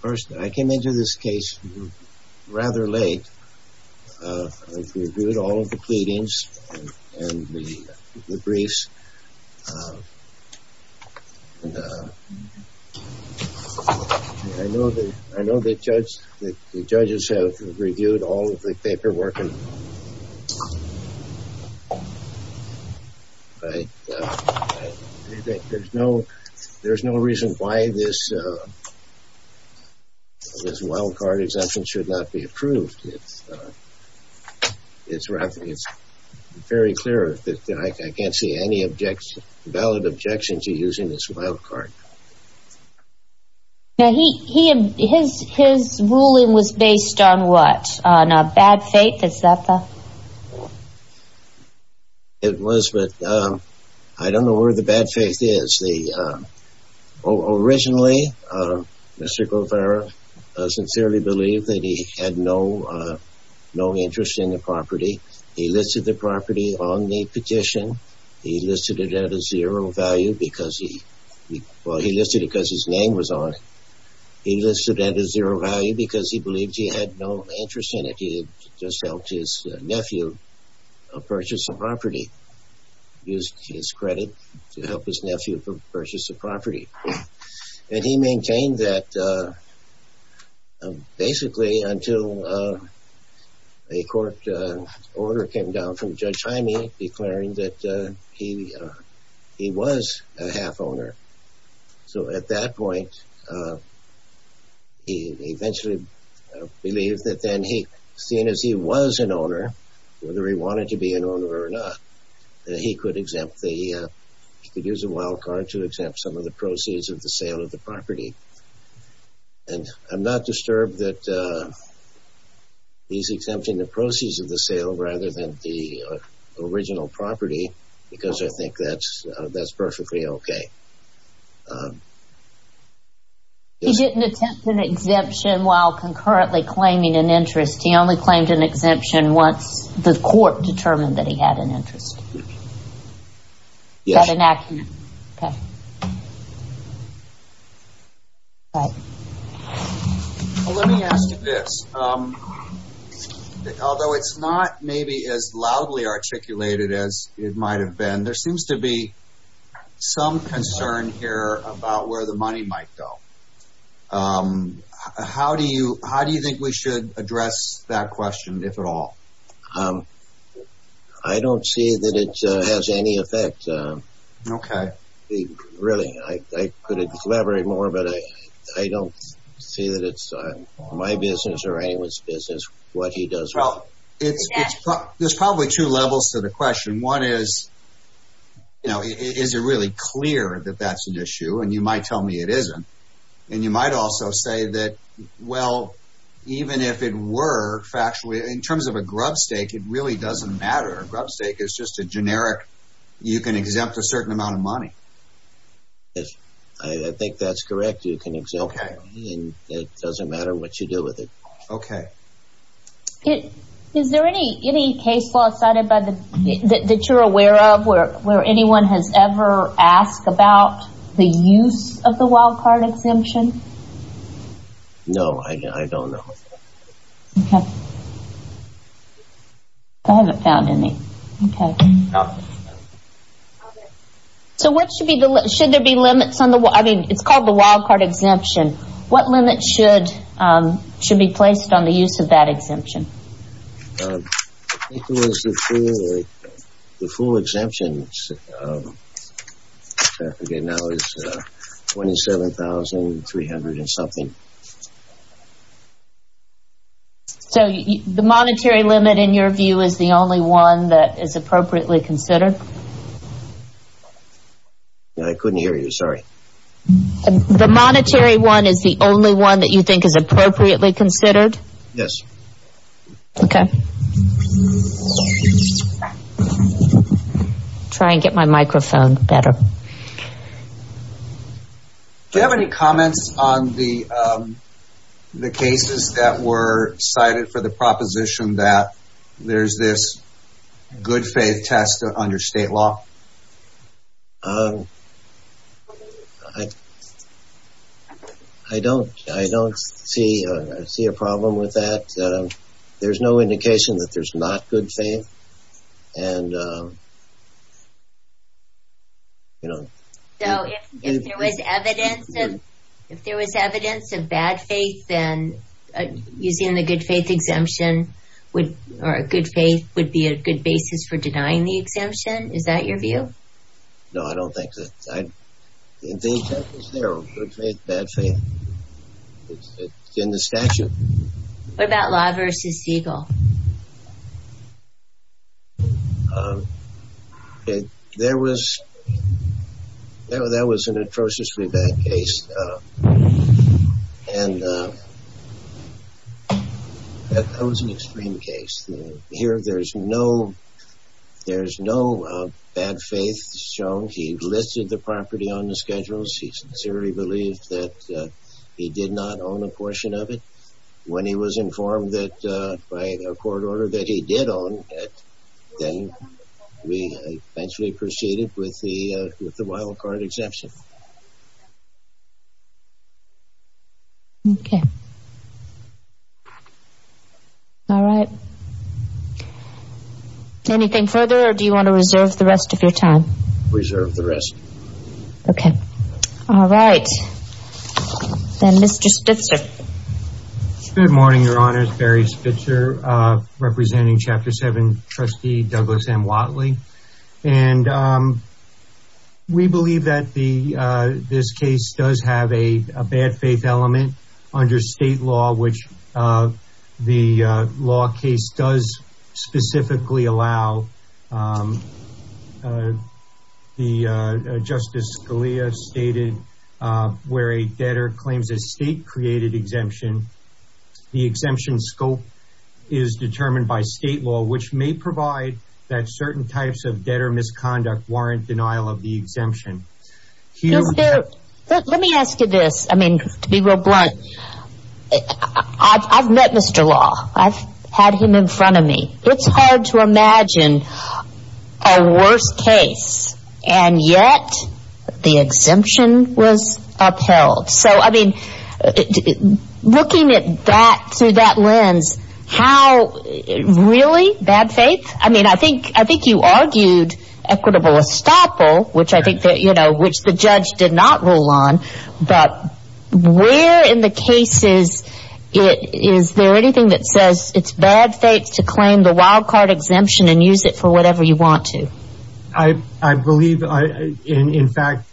First, I came into this case rather late. I reviewed all of the pleadings and the briefs. I know the judges have reviewed all of the paperwork. But there's no reason why this wild card exemption should not be approved. It's very clear that I can't see any valid objections to using this wild card. Now, his ruling was based on what? On bad faith? Is that the? It was, but I don't know where the bad faith is. Originally, Mr. Guevarra sincerely believed that he had no interest in the property. He listed the property on the petition. He listed it at a zero value because he, well, he listed it because his name was on it. He listed it at a zero value because he believed he had no interest in it. He had just helped his nephew purchase the property. Used his credit to help his nephew purchase the property. And he maintained that basically until a court order came down from Judge Hyme declaring that he was a half owner. So, at that point, he eventually believed that then he, seeing as he was an owner, whether he wanted to be an owner or not, that he could exempt the, he could use a wild card to exempt some of the proceeds of the sale of the property. And I'm not disturbed that he's exempting the proceeds of the sale rather than the original property because I think that's perfectly okay. He didn't attempt an exemption while concurrently claiming an interest. He only claimed an exemption once the court determined that he had an interest. Yes. Let me ask you this. Although it's not maybe as loudly articulated as it might have been, there seems to be some concern here about where the money might go. How do you, how do you think we should address that question, if at all? I don't see that it has any effect. Okay. Really, I could elaborate more, but I don't see that it's my business or anyone's business what he does. Well, there's probably two levels to the question. One is, you know, is it really clear that that's an issue? And you might tell me it isn't. And you might also say that, well, even if it were factually, in terms of a grub stake, it really doesn't matter. A grub stake is just a generic, you can exempt a certain amount of money. I think that's correct. You can exempt, and it doesn't matter what you do with it. Okay. Is there any case law cited that you're aware of where anyone has ever asked about the use of the wild card exemption? No, I don't know. Okay. I haven't found any. Okay. So what should be the, should there be limits on the, I mean, it's called the wild card exemption. What limits should be placed on the use of that exemption? The full exemption, I forget now, is $27,300 and something. So the monetary limit, in your The monetary one is the only one that you think is appropriately considered? Yes. Okay. Try and get my microphone better. Do you have any comments on the cases that were cited that there's this good faith test under state law? I don't see a problem with that. There's no indication that there's not good faith. So if there was evidence of bad faith, then using the good faith exemption would, or a good faith would be a good basis for denying the exemption? Is that your view? No, I don't think that. The exemptions there are good faith, bad faith. It's in the statute. What about Law v. Siegel? There was, that was an atrociously bad case. And that was an extreme case. Here, there's no, there's no bad faith shown. He listed the property on the schedules. He sincerely believed that he did not own a portion of it. When he was informed that, by a court order, that he did own it, then we eventually proceeded with the wildcard exemption. Okay. All right. Anything further, or do you want to reserve the rest of your time? Reserve the rest. Okay. All right. Then Mr. Spitzer. Good morning, Your Honors. Barry Spitzer, representing Chapter 7, Trustee Douglas M. Watley. And we believe that the, this case does have a bad faith element under state law, which the law case does specifically allow. The Justice Scalia stated, where a debtor claims a state-created exemption, the exemption's scope is determined by state law, which may provide that certain types of debtor misconduct warrant denial of the exemption. Let me ask you this, I mean, to be real blunt. I've met Mr. Law. I've had to imagine a worse case. And yet, the exemption was upheld. So, I mean, looking at that through that lens, how really bad faith? I mean, I think you argued equitable estoppel, which I think, you know, which the judge did not rule on. But where in the cases is there anything that says it's bad faith, you can have a credit card exemption and use it for whatever you want to? I believe, in fact,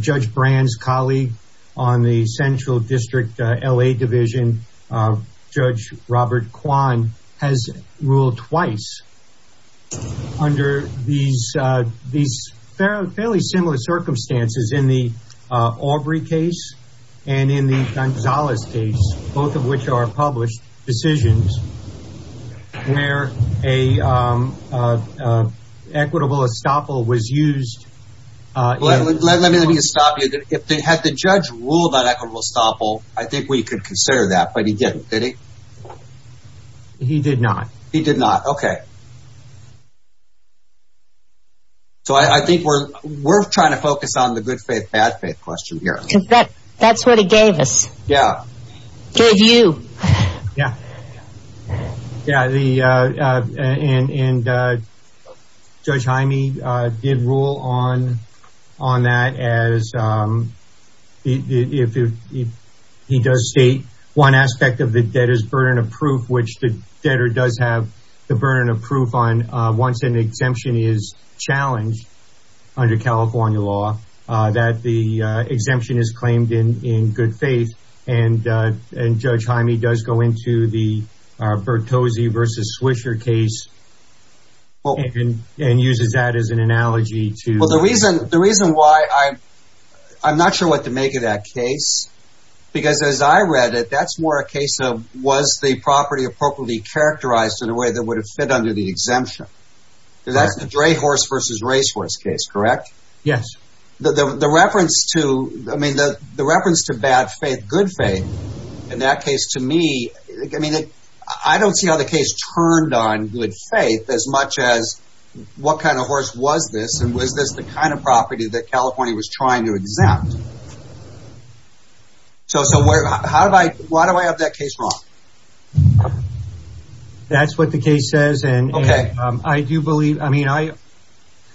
Judge Brand's colleague on the Central District LA Division, Judge Robert Kwan, has ruled twice under these fairly similar circumstances in the Aubrey case and in the Gonzales case, both of which are published decisions where an equitable estoppel was used. Let me stop you. Had the judge ruled on equitable estoppel, I think we could consider that. But he didn't, did he? He did not. He did not. Okay. So, I think we're trying to Yeah. Yeah. And Judge Hyme did rule on that as if he does state one aspect of the debtor's burden of proof, which the debtor does have the burden of proof on once an exemption is challenged under California law, that the the Bertozzi versus Swisher case and uses that as an analogy to... Well, the reason why I'm not sure what to make of that case, because as I read it, that's more a case of was the property appropriately characterized in a way that would have fit under the exemption? That's the dray horse versus racehorse case, correct? Yes. The reference to, I In that case, to me, I mean, I don't see how the case turned on good faith as much as what kind of horse was this? And was this the kind of property that California was trying to exempt? So, so where, how do I, why do I have that case wrong? That's what the case says. And I do believe, I mean, I,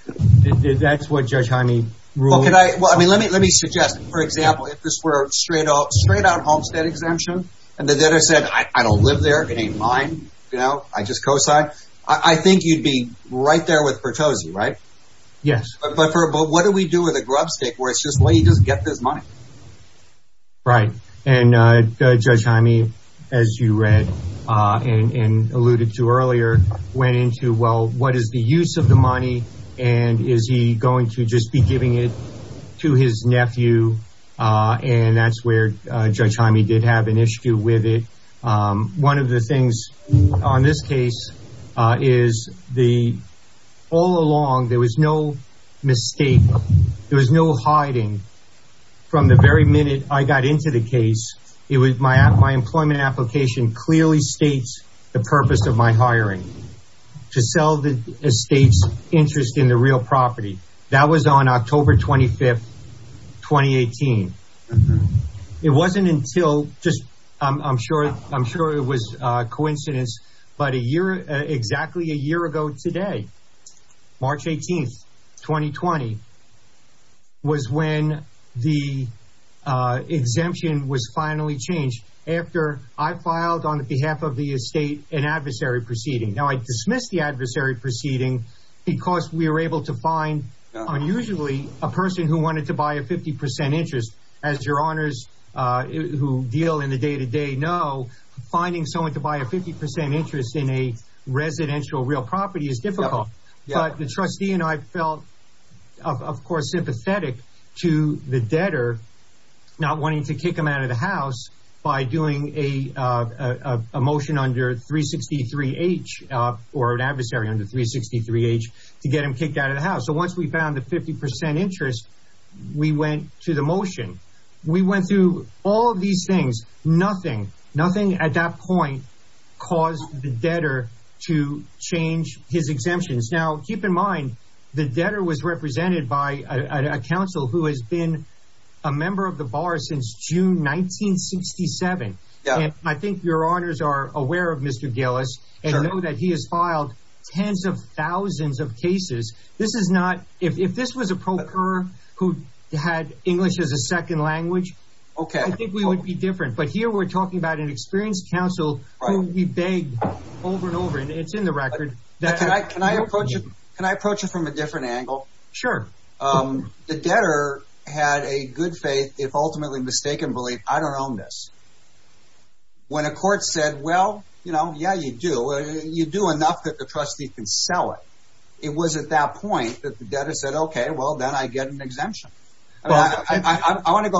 that's what Judge Hyme ruled. Well, can I, well, I mean, let me, let me suggest, for example, if this were straight off, straight on Homestead exemption, and the debtor said, I don't live there. It ain't mine. You know, I just cosign. I think you'd be right there with Bertozzi, right? Yes. But for, but what do we do with a grub stick where it's just, well, he doesn't get this money. Right. And Judge Hyme, as you read, and alluded to earlier, went into, well, what is the use of the money? And is he going to just be giving it to his nephew? And that's where Judge Hyme did have an issue with it. One of the things on this case is the, all along, there was no mistake. There was no hiding. From the very minute I got into the case, it was my, my employment application clearly states the purpose of my hiring, to sell the estate's interest in the real property. That was on October 25, 2018. It wasn't until just, I'm sure, I'm sure it was a coincidence. But a year, exactly a year ago today, March 18, 2020, was when the exemption was finally changed after I filed on behalf of the estate an adversary proceeding. Now, I dismissed the adversary proceeding because we were able to find, unusually, a person who wanted to buy a 50% interest. As your honors who deal in the day-to-day know, finding someone to buy a 50% interest in a residential real property is difficult. But the trustee and I felt, of course, sympathetic to the debtor not wanting to kick him out of the house by doing a motion under 363-H, or an adversary under 363-H, to get him kicked out of the house. So once we found the 50% interest, we went to the debtor to change his exemptions. Now, keep in mind, the debtor was represented by a counsel who has been a member of the bar since June 1967. I think your honors are aware of Mr. Gillis, and know that he has filed tens of thousands of cases. This is not, if this was a procurer who had English as a second language, I think we would be different. But here we're talking about an experienced counsel who we begged over and over, and it's in the record. Can I approach it from a different angle? Sure. The debtor had a good faith, if ultimately mistaken, belief, I don't own this. When a court said, well, you know, yeah, you do, you do enough that the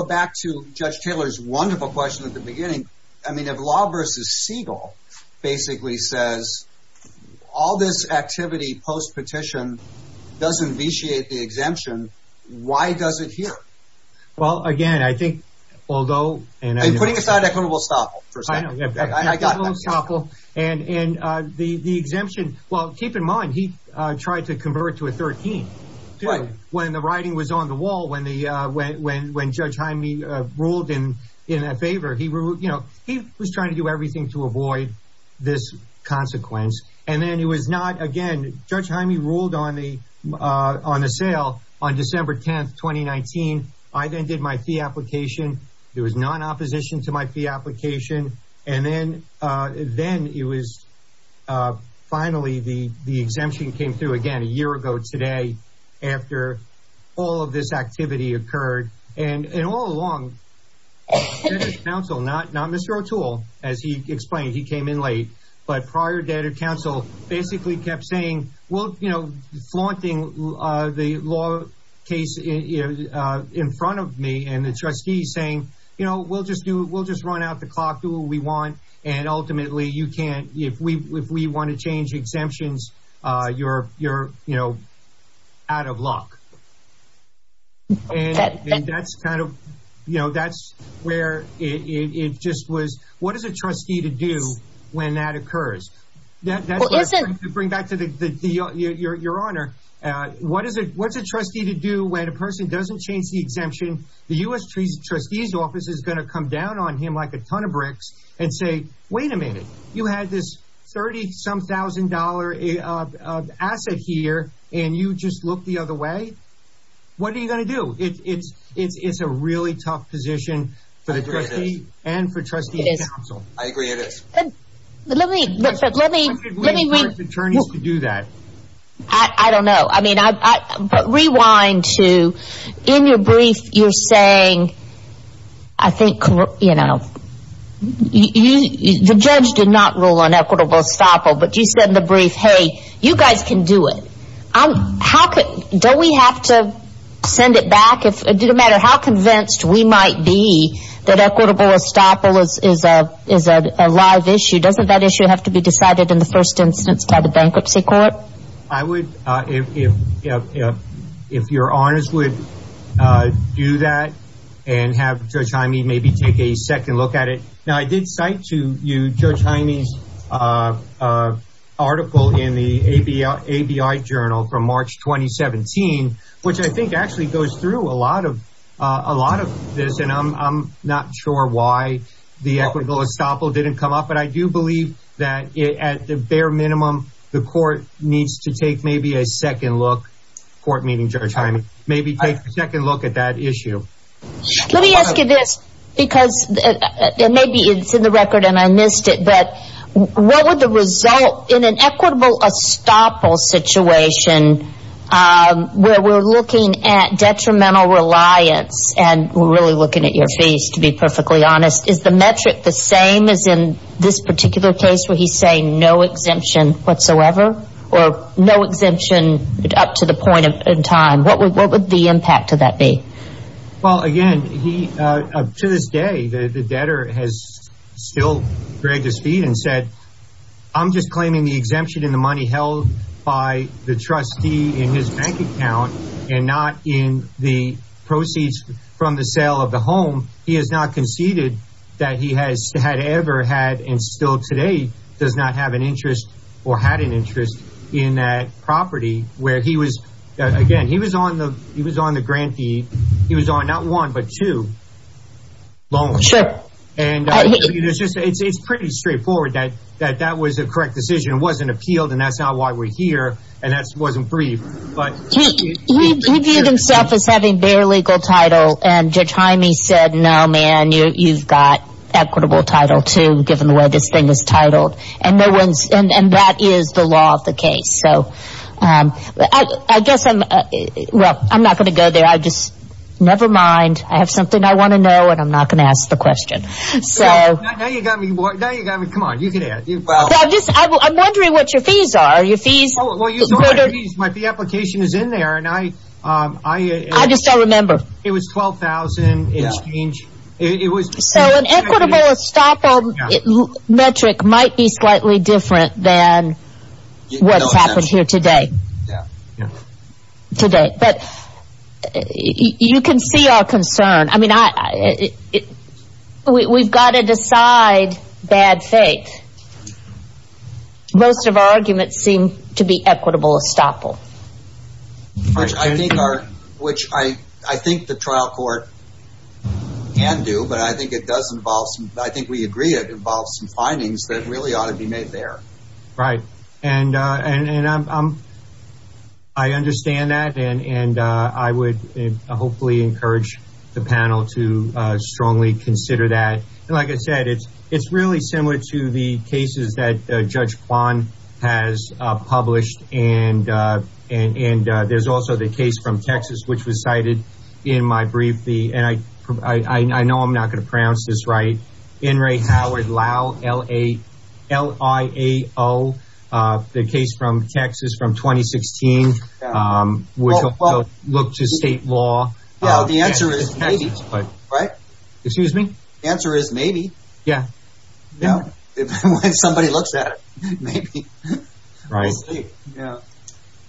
back to Judge Taylor's wonderful question at the beginning. I mean, if Law v. Siegel basically says, all this activity post-petition doesn't vitiate the exemption, why does it here? Well, again, I think, although, and I'm putting aside equitable stop. And the exemption, well, keep in mind, he tried to convert to a 13. When the writing was on the when Judge Hyme ruled in favor, he was trying to do everything to avoid this consequence. And then it was not again, Judge Hyme ruled on the sale on December 10, 2019. I then did my fee And all along, the debtor's counsel, not Mr. O'Toole, as he explained, he came in late, but prior debtor counsel basically kept saying, well, you know, flaunting the law case in front of me and the And that's kind of, you know, that's where it just was. What does a trustee to do when that occurs? That doesn't bring back to the your honor. What is it? What's a trustee to do when a person doesn't change the exemption? The U.S. Trustee's Office is going to come down on him like a ton of bricks and say, wait a minute, you had this 30 some thousand dollar asset here and you just look the other way. What are you going to do? It's it's it's a really tough position for the trustee and for trustee counsel. I agree it is. Let me, let me, let me, let me do that. I don't know. I mean, I rewind to in your brief, you're saying, I think, you know, you the judge did not rule on equitable estoppel, but you said in the brief, hey, you guys can do it. How could don't we have to send it back if it didn't matter how convinced we might be that equitable estoppel is is a is a live issue. Doesn't that issue have to be decided in the first instance by the bankruptcy court? I would if if if your honors would do that and have Judge Jaime maybe take a second look at it. Now, I did cite to you, Judge Jaime's article in the ABI journal from March 2017, which I think actually goes through a lot of a lot of this. And I'm not sure why the equitable estoppel didn't come up. But I do believe that at the bare minimum, the court needs to take maybe a second look. Court meeting, Judge Jaime, maybe take a second look at that issue. Let me ask you this, because maybe it's in the record and I missed it, but what would the result in an equitable estoppel situation where we're looking at detrimental reliance and we're really looking at your fees, to be perfectly honest, is the metric the same as in this particular case where he's saying no exemption whatsoever or no exemption up to the point of time? What would what would the impact of that be? Well, again, he to this day, the debtor has still dragged his feet and said, I'm just claiming the exemption in the money held by the trustee in his bank account and not in the proceeds from the sale of the home. He has not conceded that he has had ever had and still today does not have an interest or had an interest in that property where he was. Again, he was on the he was on the grantee. He was on not one, but two loans. Sure. And it's pretty straightforward that that that was a correct decision. It wasn't appealed. And that's not why we're here. And that wasn't brief. He viewed himself as having bare legal title and Judge Jaime said, no, man, you've got equitable title to given the way this thing is titled and no one's and that is the law of the case. So I guess I'm well, I'm not going to go there. I just never mind. I have something I want to know and I'm not going to ask the question. So now you got me. Now you got me. Come on. You can do this. I'm wondering what your fees are. Your fees might be applications in there. And I, I, I just don't remember. It was twelve thousand exchange. So an equitable estoppel metric might be slightly different than what's happened here today. Today. But you can see our concern. I mean, we've got to decide bad faith. Most of our arguments seem to be equitable estoppel. Which I think are, which I, I think the trial court can do, but I think it does involve some, I think we agree it involves some findings that really ought to be made there. Right. And, and, and I'm, I'm, I understand that. And, and I would hopefully encourage the panel to strongly consider that. And like I said, it's, it's really similar to the cases that Judge Kwan has published. And, and, and there's also the case from Texas, which was cited in my brief. The, and I, I, I know I'm not going to pronounce this right. In Ray Howard, Lao, L-A-L-I-A-O. The case from Texas from 2016, which looked to state law. The answer is maybe. Right. Excuse me. The answer is maybe. Yeah. Yeah. If somebody looks at it, maybe. Right. Yeah.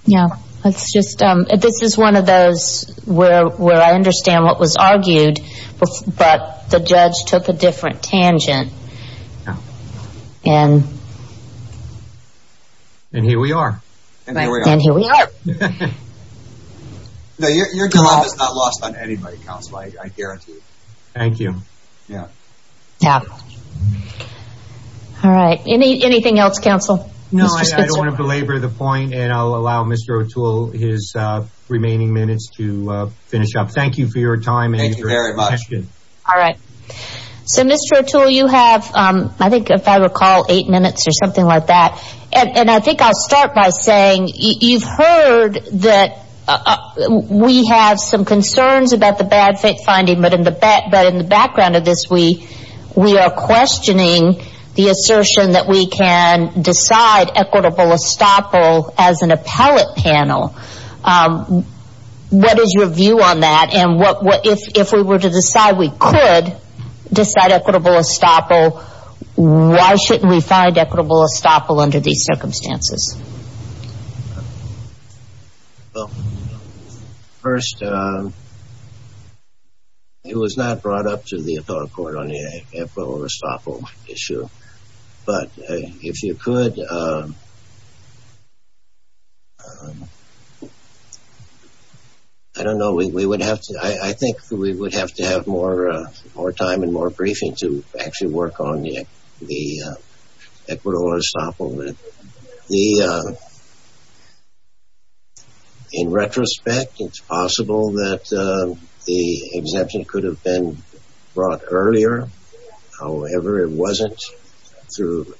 Yeah. Let's just, this is one of those where, where I understand what was argued, but the judge took a different tangent. And here we are. And here we are. Thank you. Yeah. Yeah. All right. Any, anything else, counsel? No, I don't want to belabor the point and I'll allow Mr. O'Toole his remaining minutes to finish up. Thank you for your time. Thank you very much. All right. So, Mr. O'Toole, you have, I think if I recall, eight minutes or something like that. And I think I'll start by saying you've heard that we have some concerns about the bad faith finding, but in the back, but in the background of this, we, we are questioning the assertion that we can decide equitable estoppel as an appellate panel. What is your view on that? And what, if, if we were to decide, we could decide equitable estoppel, why shouldn't we find equitable estoppel under these circumstances? Well, first, it was not brought up to the appellate court on the equitable estoppel issue, but if you could, I don't know, we would have to, I think we would have to have more, more time and more briefing to actually work on the, the equitable estoppel. The, in retrospect, it's possible that the exemption could have been brought earlier. However, it wasn't through,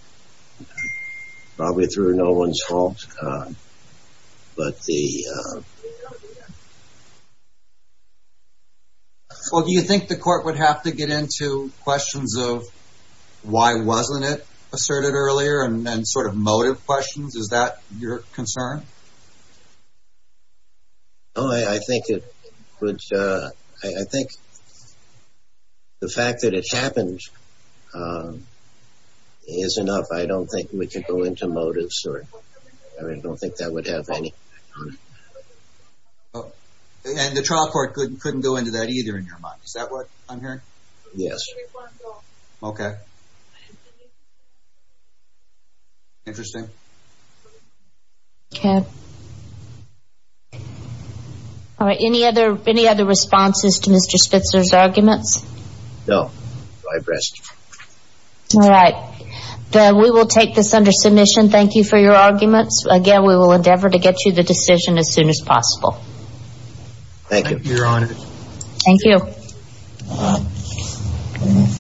probably through no one's fault. But the... Well, do you think the court would have to get into questions of why wasn't it asserted earlier and then sort of motive questions? Is that your concern? Oh, I think it would. I think the fact that it happened is enough. I don't think we can go into motives or I don't think that would have any... And the trial court couldn't go into that either in your mind. Is that what I'm hearing? Yes. Okay. Interesting. Okay. All right. Any other, any other responses to Mr. Spitzer's arguments? No. I rest. All right. We will take this under submission. Thank you for your arguments. Again, we will endeavor to get you the decision as soon as possible. Thank you, Your Honor. Thank you.